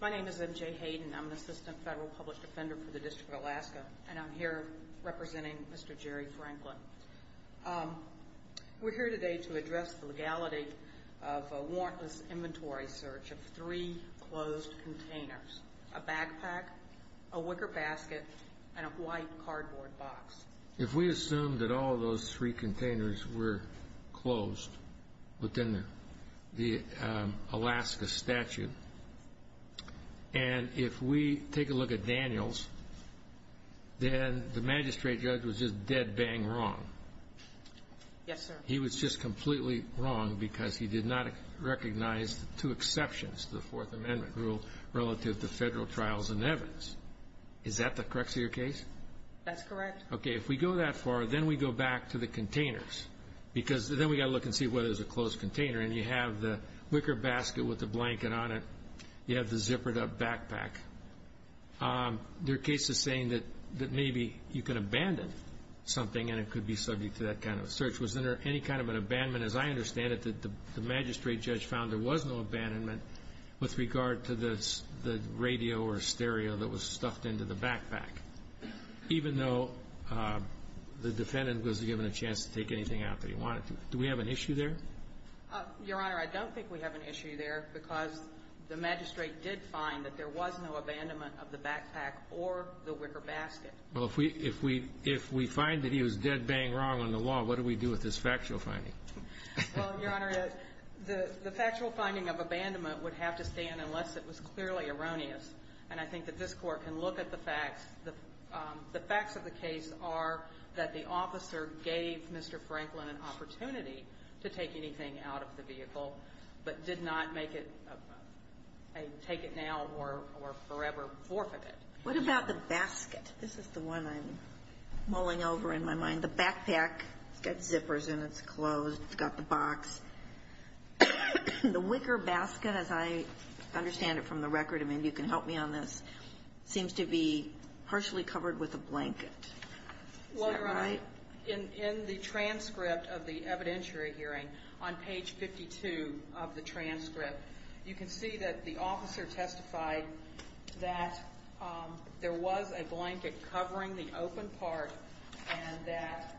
My name is MJ Hayden. I'm an assistant federal published offender for the District of Alaska, and I'm here representing Mr. Jerry Franklin. We're here today to address the legality of a warrantless inventory search of three closed containers, a backpack, a wicker basket, and a white cardboard box. If we assume that all of those three containers were closed within the Alaska statute, and if we take a look at Daniels, then the magistrate judge was just dead-bang wrong. Yes, sir. He was just completely wrong because he did not recognize the two exceptions to the Fourth Amendment rule relative to federal trials and evidence. Is that the crux of your case? That's correct. Okay. If we go that far, then we go back to the containers, because then we've got to look and see whether it was a closed container. And you have the wicker basket with the blanket on it. You have the zippered-up backpack. There are cases saying that maybe you can abandon something, and it could be subject to that kind of a search. Was there any kind of an abandonment? As I understand it, the magistrate judge found there was no abandonment with regard to the radio or stereo that was stuffed into the backpack, even though the defendant was given a chance to take anything out that he wanted to. Do we have an issue there? Your Honor, I don't think we have an issue there because the magistrate did find that there was no abandonment of the backpack or the wicker basket. Well, if we find that he was dead bang wrong on the wall, what do we do with this factual finding? Well, Your Honor, the factual finding of abandonment would have to stand unless it was clearly erroneous. And I think that this Court can look at the facts. The facts of the case are that the officer gave Mr. Franklin an opportunity to take anything out of the vehicle, but did not make it a take-it-now or forever forfeit. What about the basket? This is the one I'm mulling over in my mind. The backpack, it's got zippers in it, it's closed, it's got the box. The wicker basket, as I understand it from the record, and maybe you can help me on this, seems to be partially covered with a blanket. Is that right? In the transcript of the evidentiary hearing, on page 52 of the transcript, you can see that the officer testified that there was a blanket covering the open part and that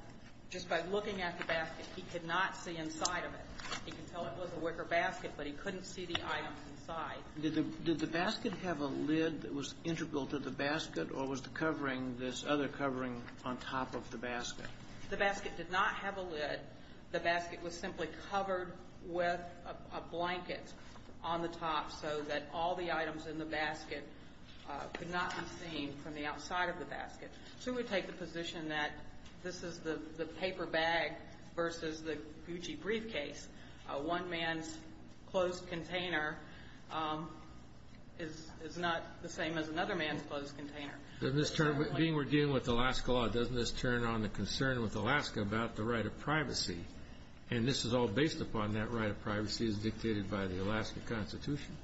just by looking at the basket, he could not see inside of it. He could tell it was a wicker basket, but he couldn't see the items inside. Did the basket have a lid that was integral to the basket, or was the covering this other covering on top of the basket? The basket did not have a lid. The basket was simply covered with a blanket on the top so that all the items in the basket could not be seen from the outside of the basket. So we take the position that this is the paper bag versus the Gucci briefcase, one man's closed container is not the same as another man's closed container. Doesn't this turn, being we're dealing with Alaska law, doesn't this turn on the concern with Alaska about the right of privacy, and this is all based upon that right of privacy as dictated by the Alaska Constitution?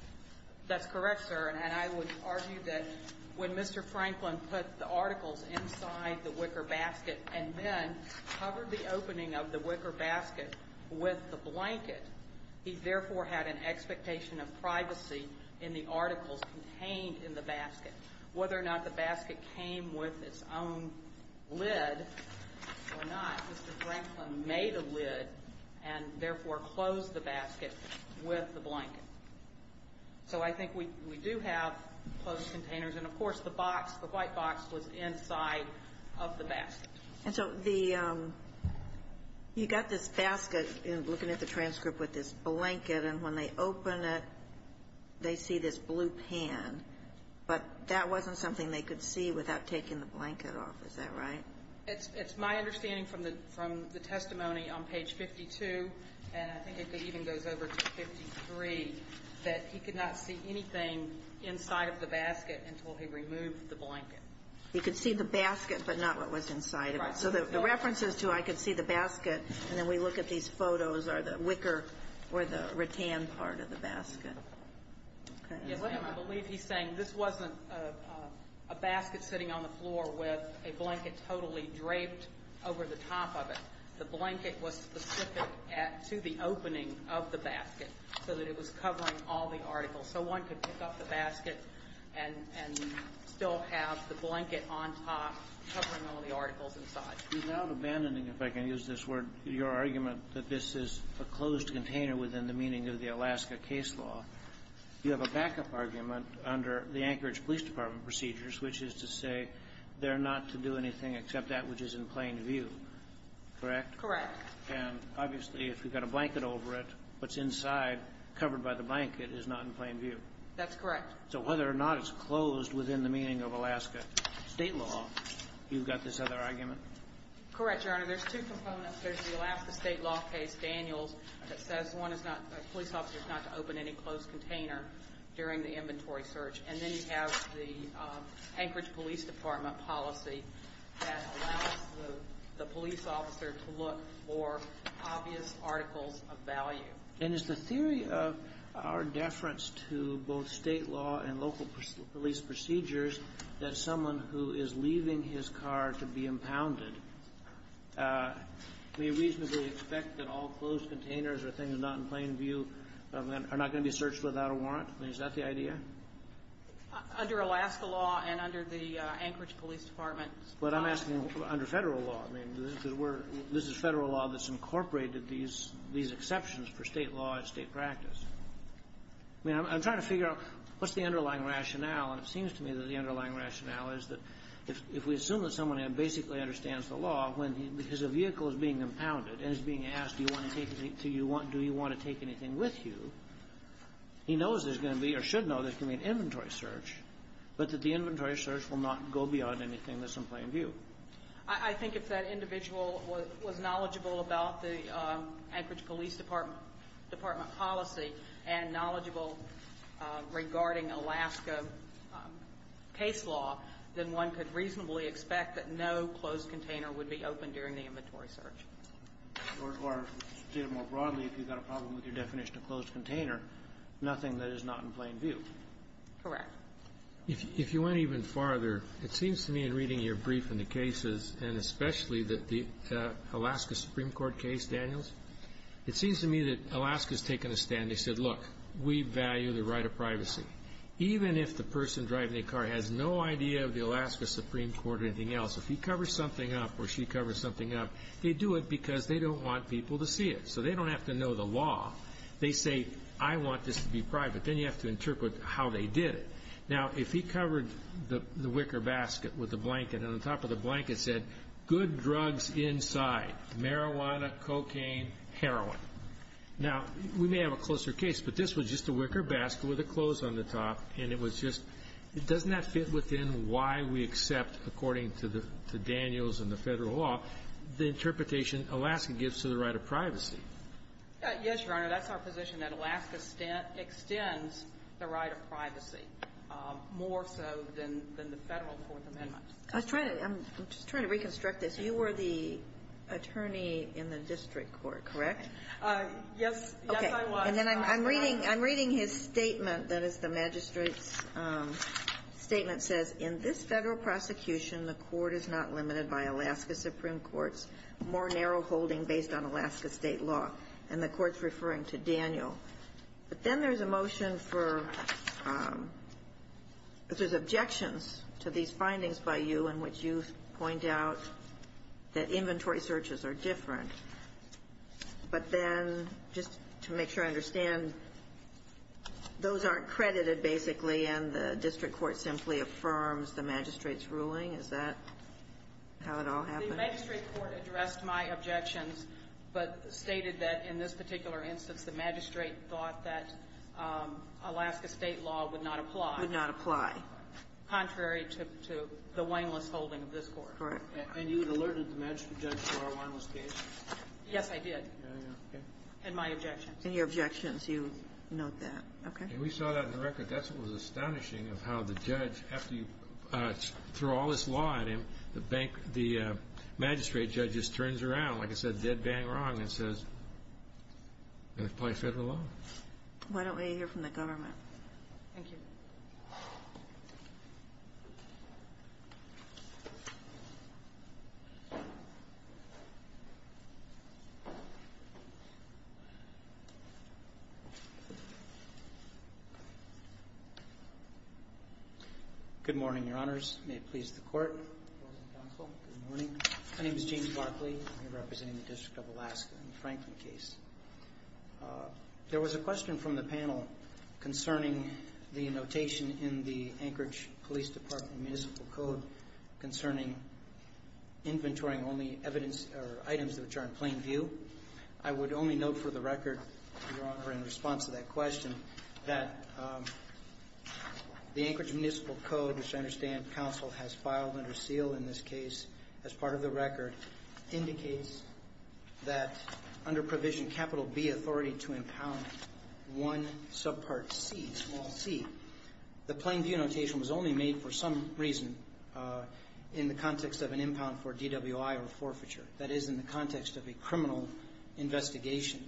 That's correct, sir, and I would argue that when Mr. Franklin put the articles inside the wicker basket and then covered the opening of the wicker basket with the blanket, he therefore had an expectation of privacy in the articles contained in the basket. Whether or not the basket came with its own lid or not, Mr. Franklin made a lid and therefore closed the basket with the blanket. So I think we do have closed containers, and, of course, the box, the white box, was inside of the basket. And so you got this basket looking at the transcript with this blanket, and when they open it, they see this blue pan, but that wasn't something they could see without taking the blanket off. Is that right? It's my understanding from the testimony on page 52, and I think it even goes over to 53, that he could not see anything inside of the basket until he removed the blanket. He could see the basket, but not what was inside of it. So the reference is to I could see the basket, and then we look at these photos, or the wicker or the rattan part of the basket. Okay. And I believe he's saying this wasn't a basket sitting on the floor with a blanket totally draped over the top of it. The blanket was specific to the opening of the basket so that it was covering all the articles. So one could pick up the basket and still have the blanket on top covering all the articles inside. Without abandoning, if I can use this word, your argument that this is a closed container within the meaning of the Alaska case law, you have a backup argument under the Anchorage Police Department procedures, which is to say they're not to do anything except that which is in plain view, correct? Correct. And obviously, if you've got a blanket over it, what's inside covered by the blanket is not in plain view. That's correct. So whether or not it's closed within the meaning of Alaska State law, you've got this other argument? Correct, Your Honor. Your Honor, there's two components. There's the Alaska State law case, Daniels, that says one is not the police officer is not to open any closed container during the inventory search. And then you have the Anchorage Police Department policy that allows the police officer to look for obvious articles of value. And is the theory of our deference to both State law and local police procedures that someone who is leaving his car to be impounded may reasonably expect that all closed containers or things not in plain view are not going to be searched without a warrant? I mean, is that the idea? Under Alaska law and under the Anchorage Police Department. But I'm asking under Federal law. I mean, this is Federal law that's incorporated these exceptions for State law and State practice. I mean, I'm trying to figure out what's the underlying rationale. And it seems to me that the underlying rationale is that if we assume that someone basically understands the law, because a vehicle is being impounded and is being asked do you want to take anything with you, he knows there's going to be or should know there's going to be an inventory search, but that the inventory search will not go beyond anything that's in plain view. I think if that individual was knowledgeable about the Anchorage Police Department policy and knowledgeable regarding Alaska case law, then one could reasonably expect that no closed container would be open during the inventory search. Or, to state it more broadly, if you've got a problem with your definition of closed container, nothing that is not in plain view. Correct. If you went even farther, it seems to me in reading your brief and the cases, and especially the Alaska Supreme Court case, Daniels, it seems to me that Alaska has taken a stand. They said, look, we value the right of privacy. Even if the person driving the car has no idea of the Alaska Supreme Court or anything else, if he covers something up or she covers something up, they do it because they don't want people to see it. So they don't have to know the law. They say, I want this to be private. Then you have to interpret how they did it. Now, if he covered the wicker basket with a blanket and on top of the blanket said, good drugs inside, marijuana, cocaine, heroin. Now, we may have a closer case, but this was just a wicker basket with the clothes on the top, and it was just, doesn't that fit within why we accept, according to Daniels and the federal law, the interpretation Alaska gives to the right of privacy? Yes, Your Honor, that's our position, that Alaska extends the right of privacy, more so than the federal Fourth Amendment. I was trying to, I'm just trying to reconstruct this. You were the attorney in the district court, correct? Yes, yes, I was. Okay. And then I'm reading his statement that is the magistrate's statement says, in this federal prosecution, the court is not limited by Alaska Supreme Court's more narrow holding based on Alaska state law. And the court's referring to Daniel. But then there's a motion for, there's objections to these findings by you in which you point out that inventory searches are different. But then, just to make sure I understand, those aren't credited, basically, and the district court simply affirms the magistrate's ruling? Is that how it all happened? The magistrate court addressed my objections, but stated that, in this particular instance, the magistrate thought that Alaska state law would not apply. Would not apply. Contrary to the wineless holding of this court. Correct. And you had alerted the magistrate judge to our wineless case? Yes, I did. Okay. And my objections. And your objections, you note that. Okay. And we saw that in the record. That's what was astonishing of how the judge, after you threw all this law at him, the magistrate judge just turns around, like I said, dead bang wrong, and says, I'm going to apply federal law. Why don't we hear from the government? Thank you. Good morning, Your Honors. May it please the Court. Good morning. My name is James Barkley. I'm representing the District of Alaska in the Franklin case. There was a question from the panel concerning the notation in the Anchorage Police Department Municipal Code concerning inventorying only items which are in plain view. I would only note for the record, Your Honor, in response to that question, that the Anchorage Municipal Code, which I understand counsel has filed under seal in this case, as part of the record, indicates that under provision capital B authority to impound one subpart C, small c, the plain view notation was only made for some reason in the context of an impound for DWI or forfeiture. That is, in the context of a criminal investigation.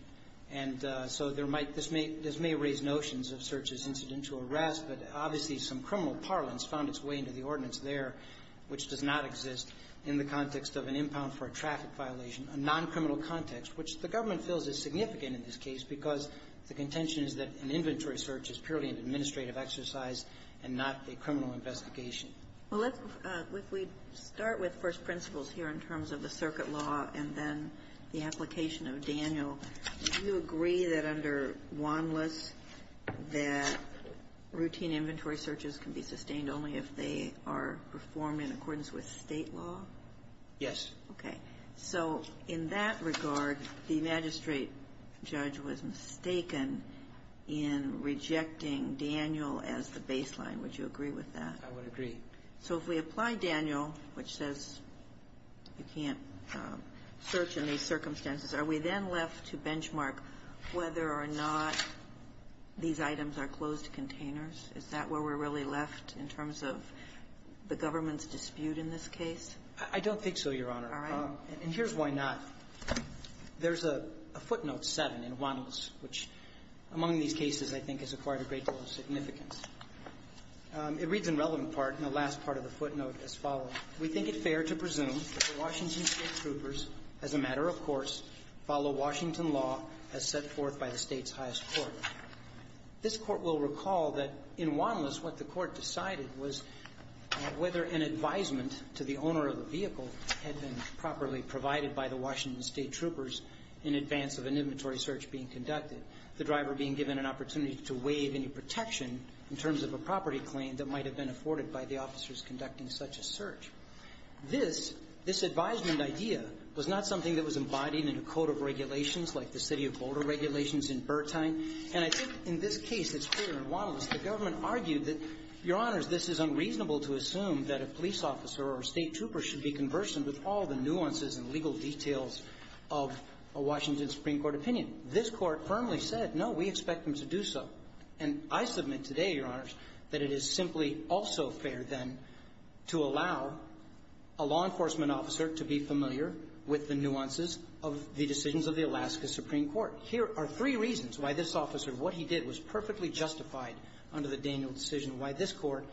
And so there might be this may raise notions of search as incidental arrest, but obviously, some criminal parlance found its way into the ordinance there, which does not exist in the context of an impound for a traffic violation, a noncriminal context, which the government feels is significant in this case because the contention is that an inventory search is purely an administrative exercise and not a criminal investigation. Well, if we start with first principles here in terms of the circuit law and then the application of Daniel, do you agree that under Wanlis that routine inventory searches can be sustained only if they are performed in accordance with State law? Yes. Okay. So in that regard, the magistrate judge was mistaken in rejecting Daniel as the baseline. Would you agree with that? I would agree. So if we apply Daniel, which says you can't search in these circumstances, are we then left to benchmark whether or not these items are closed containers? Is that where we're really left in terms of the government's dispute in this case? I don't think so, Your Honor. All right. And here's why not. There's a footnote 7 in Wanlis, which among these cases, I think, has acquired a great deal of significance. It reads in relevant part in the last part of the footnote as follows. We think it fair to presume that the Washington State Troopers, as a matter of course, follow Washington law as set forth by the State's highest court. This Court will recall that in Wanlis what the Court decided was whether an advisement to the owner of the vehicle had been properly provided by the Washington State Troopers in advance of an inventory search being conducted, the driver being given an opportunity to waive any protection in terms of a property claim that might have been afforded by the officers conducting such a search. This advisement idea was not something that was embodied in a code of regulations like the City of Boulder regulations in Bertine. And I think in this case, it's clear in Wanlis the government argued that, Your Honors, this is unreasonable to assume that a police officer or a State Trooper should be conversant with all the nuances and legal details of a Washington Supreme Court opinion. This Court firmly said, no, we expect them to do so. And I submit today, Your Honors, that it is simply also fair, then, to allow a law enforcement officer to be familiar with the nuances of the decisions of the Alaska Supreme Court. Here are three reasons why this officer, what he did was perfectly justified under the Daniel decision, why this Court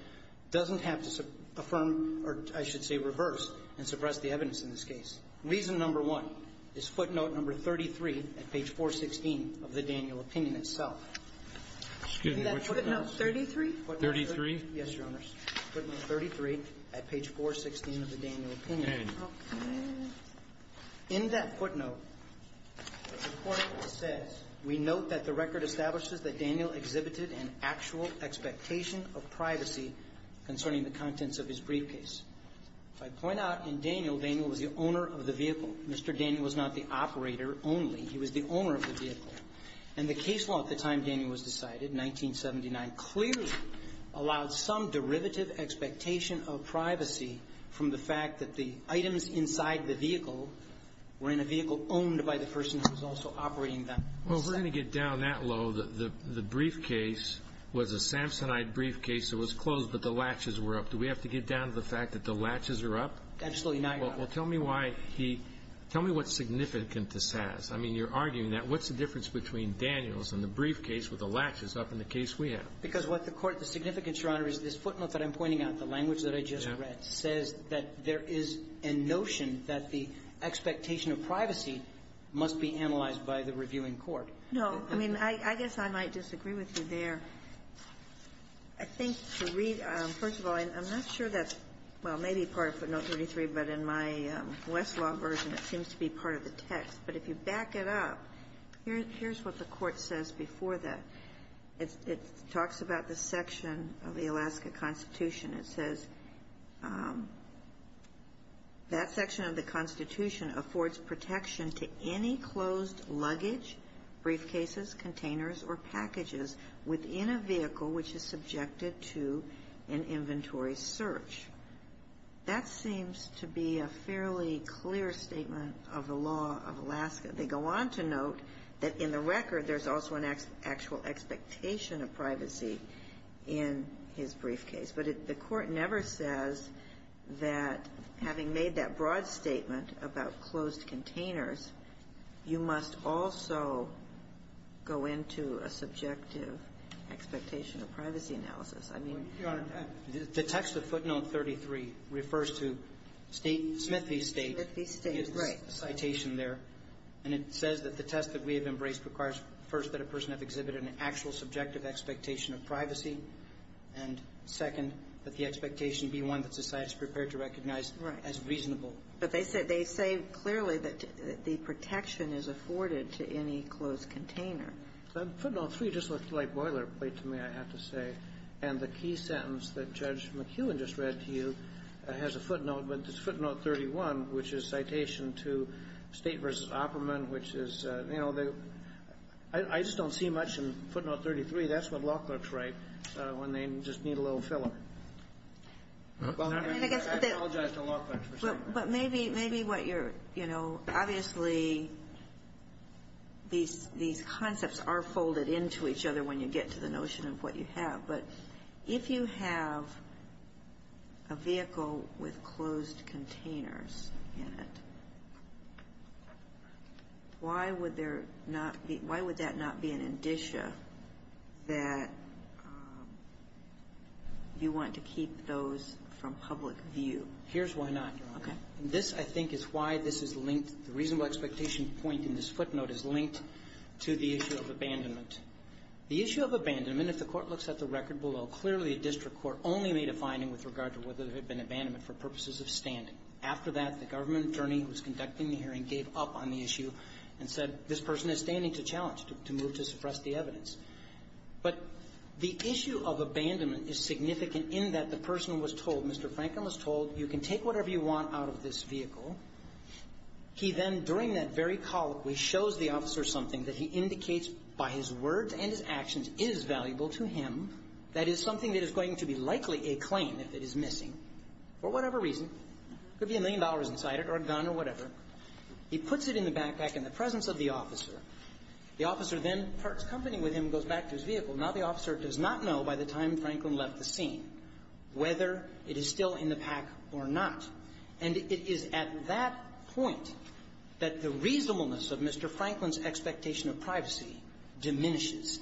doesn't have to affirm or I should say reverse and suppress the evidence in this case. Reason number one is footnote number 33 at page 416 of the Daniel opinion itself. Excuse me, which footnote? Footnote 33? 33? Yes, Your Honors. Footnote 33 at page 416 of the Daniel opinion. Okay. In that footnote, the Court says, We note that the record establishes that Daniel exhibited an actual expectation of privacy concerning the contents of his briefcase. If I point out in Daniel, Daniel was the owner of the vehicle. Mr. Daniel was not the operator only. He was the owner of the vehicle. And the case law at the time Daniel was decided, 1979, clearly allowed some derivative expectation of privacy from the fact that the items inside the vehicle were in a vehicle owned by the person who was also operating them. Well, if we're going to get down that low, the briefcase was a Samsonite briefcase that was closed, but the latches were up. Do we have to get down to the fact that the latches are up? Absolutely not, Your Honor. Well, tell me why he – tell me what significance this has. I mean, you're arguing that. What's the difference between Daniel's and the briefcase with the latches up in the case we have? Because what the Court – the significance, Your Honor, is this footnote that I'm pointing out, the language that I just read, says that there is a notion that the expectation of privacy must be analyzed by the reviewing court. No. I mean, I guess I might disagree with you there. I think to read – first of all, I'm not sure that's – well, maybe part of footnote 33, but in my Westlaw version, it seems to be part of the text. But if you back it up, here's what the Court says before that. It talks about the section of the Alaska Constitution. It says, that section of the Constitution affords protection to any closed luggage, briefcases, containers, or packages within a vehicle which is subjected to an inventory search. That seems to be a fairly clear statement of the law of Alaska. They go on to note that in the record, there's also an actual expectation of privacy in his briefcase. But the Court never says that having made that broad statement about closed containers, you must also go into a subjective expectation of privacy analysis. I mean – Your Honor, the text of footnote 33 refers to Smith v. State. Smith v. State, right. The citation there. And it says that the test that we have embraced requires, first, that a person have exhibited an actual subjective expectation of privacy, and, second, that the expectation be one that society is prepared to recognize as reasonable. Right. But they say clearly that the protection is afforded to any closed container. Footnote 3 just looked like boilerplate to me, I have to say. And the key sentence that Judge McEwen just read to you has a footnote, but it's footnote 31, which is citation to State v. Opperman, which is – you know, I just don't see much in footnote 33. That's what law clerks write when they just need a little filler. I apologize to law clerks for saying that. But maybe what you're – you know, obviously, these concepts are folded into each other when you get to the notion of what you have. But if you have a vehicle with closed containers in it, why would there not be – why would that not be an indicia that you want to keep those from public view? Here's why not, Your Honor. Okay. And this, I think, is why this is linked – the reasonable expectation point in this footnote is linked to the issue of abandonment. The issue of abandonment, if the Court looks at the record below, clearly a district court only made a finding with regard to whether there had been abandonment for purposes of standing. After that, the government attorney who was conducting the hearing gave up on the issue and said, this person is standing to challenge, to move to suppress the evidence. But the issue of abandonment is significant in that the person was told, Mr. Franklin was told, you can take whatever you want out of this vehicle. He then, during that very colloquy, shows the officer something that he indicates by his words and his actions is valuable to him, that is something that is going to be likely a claim if it is missing for whatever reason. Could be a million dollars inside it or a gun or whatever. He puts it in the backpack in the presence of the officer. The officer then parts company with him and goes back to his vehicle. Now the officer does not know by the time Franklin left the scene whether it is still in the pack or not. And it is at that point that the reasonableness of Mr. Franklin's expectation of privacy diminishes.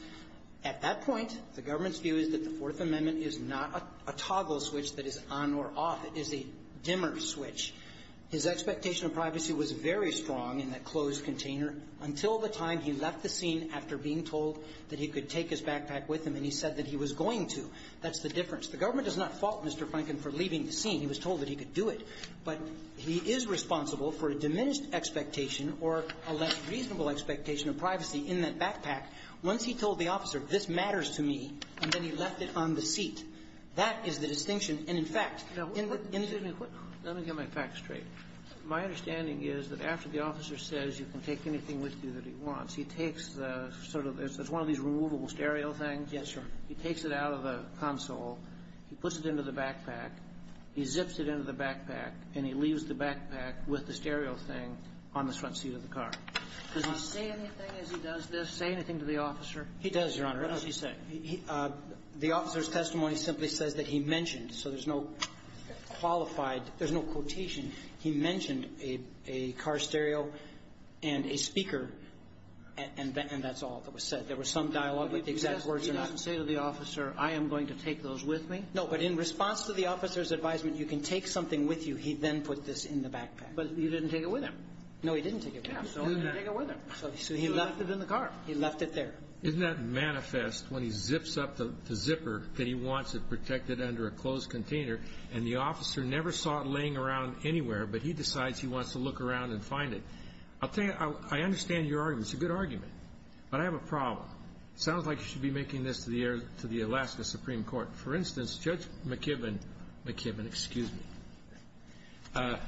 At that point, the government's view is that the Fourth Amendment is not a toggle switch that is on or off. It is a dimmer switch. His expectation of privacy was very strong in that closed container until the time he left the scene after being told that he could take his backpack with him and he said that he was going to. That's the difference. The government does not fault Mr. Franklin for leaving the scene. He was told that he could do it. But he is responsible for a diminished expectation or a less reasonable expectation of privacy in that backpack once he told the officer, this matters to me, and then he left it on the seat. That is the distinction. And, in fact, in what — Let me get my facts straight. My understanding is that after the officer says you can take anything with you that he wants, he takes the sort of — it's one of these removable stereo things. Yes, sir. He takes it out of the console. He puts it into the backpack. He zips it into the backpack, and he leaves the backpack with the stereo thing on the front seat of the car. Does he say anything as he does this, say anything to the officer? He does, Your Honor. What does he say? The officer's testimony simply says that he mentioned, so there's no qualified — there's no quotation. He mentioned a car stereo and a speaker, and that's all that was said. There was some dialogue with the exact words in it. He doesn't say to the officer, I am going to take those with me? No. But in response to the officer's advisement, you can take something with you, he then put this in the backpack. But he didn't take it with him. No, he didn't take it with him. He didn't take it with him. So he left it in the car. He left it there. Isn't that manifest when he zips up the zipper that he wants it protected under a closed container, and the officer never saw it laying around anywhere, but he decides he wants to look around and find it? I'll tell you, I understand your argument. It's a good argument. But I have a problem. It sounds like you should be making this to the Alaska Supreme Court. For instance, Judge McKibben — McKibben, excuse me.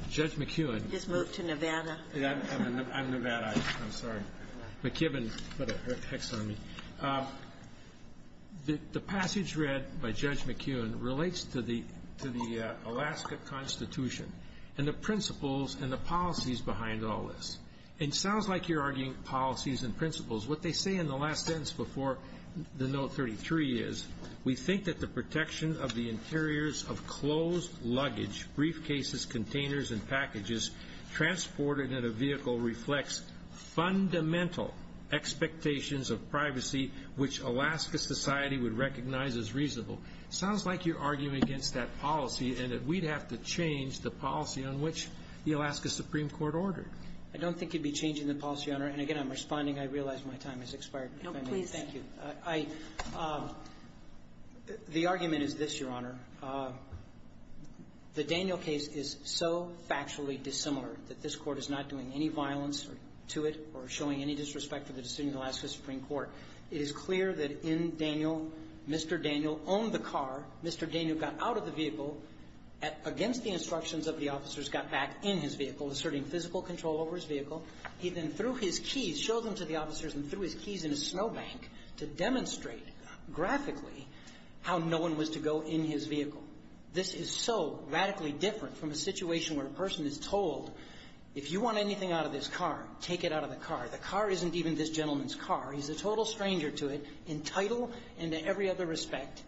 Judge McKeown — He just moved to Nevada. I'm Nevada. I'm sorry. McKibben put a hex on me. The passage read by Judge McKeown relates to the Alaska Constitution and the principles and the policies behind all this. It sounds like you're arguing policies and principles. What they say in the last sentence before the Note 33 is, we think that the protection of the interiors of closed luggage, briefcases, containers, and packages transported in a vehicle reflects fundamental expectations of privacy, which Alaska society would recognize as reasonable. It sounds like you're arguing against that policy and that we'd have to change the policy on which the Alaska Supreme Court ordered. I don't think you'd be changing the policy, Your Honor. And again, I'm responding. I realize my time has expired. No, please. Thank you. I — the argument is this, Your Honor. The Daniel case is so factually dissimilar that this Court is not doing any violence to it or showing any disrespect for the decision of the Alaska Supreme Court. It is clear that in Daniel, Mr. Daniel owned the car. Mr. Daniel got out of the vehicle against the instructions of the officers, got back in his vehicle, asserting physical control over his vehicle. He then threw his keys — showed them to the officers and threw his keys in a snowbank to demonstrate graphically how no one was to go in his vehicle. This is so radically different from a situation where a person is told, if you want anything out of this car, take it out of the car. The car isn't even this gentleman's car. He's a total stranger to it, entitled and to every other respect.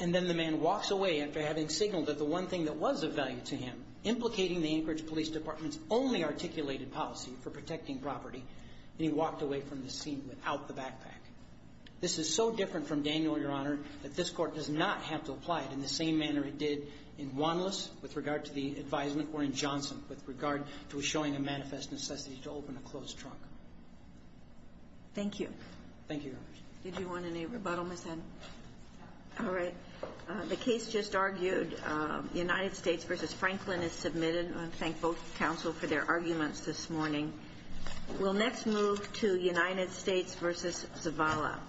And then the man walks away after having signaled that the one thing that was of value to him, implicating the Anchorage Police Department's only articulated policy for protecting property, and he walked away from the scene without the backpack. This is so different from Daniel, Your Honor, that this Court does not have to apply it in the same manner it did in Wanlis with regard to the advisement or in Johnson with regard to showing a manifest necessity to open a closed trunk. Thank you. Thank you, Your Honor. Did you want any rebuttal, Ms. Ed? All right. The case just argued. The United States v. Franklin is submitted. I thank both counsel for their arguments this morning. We'll next move to United States v. Zavala.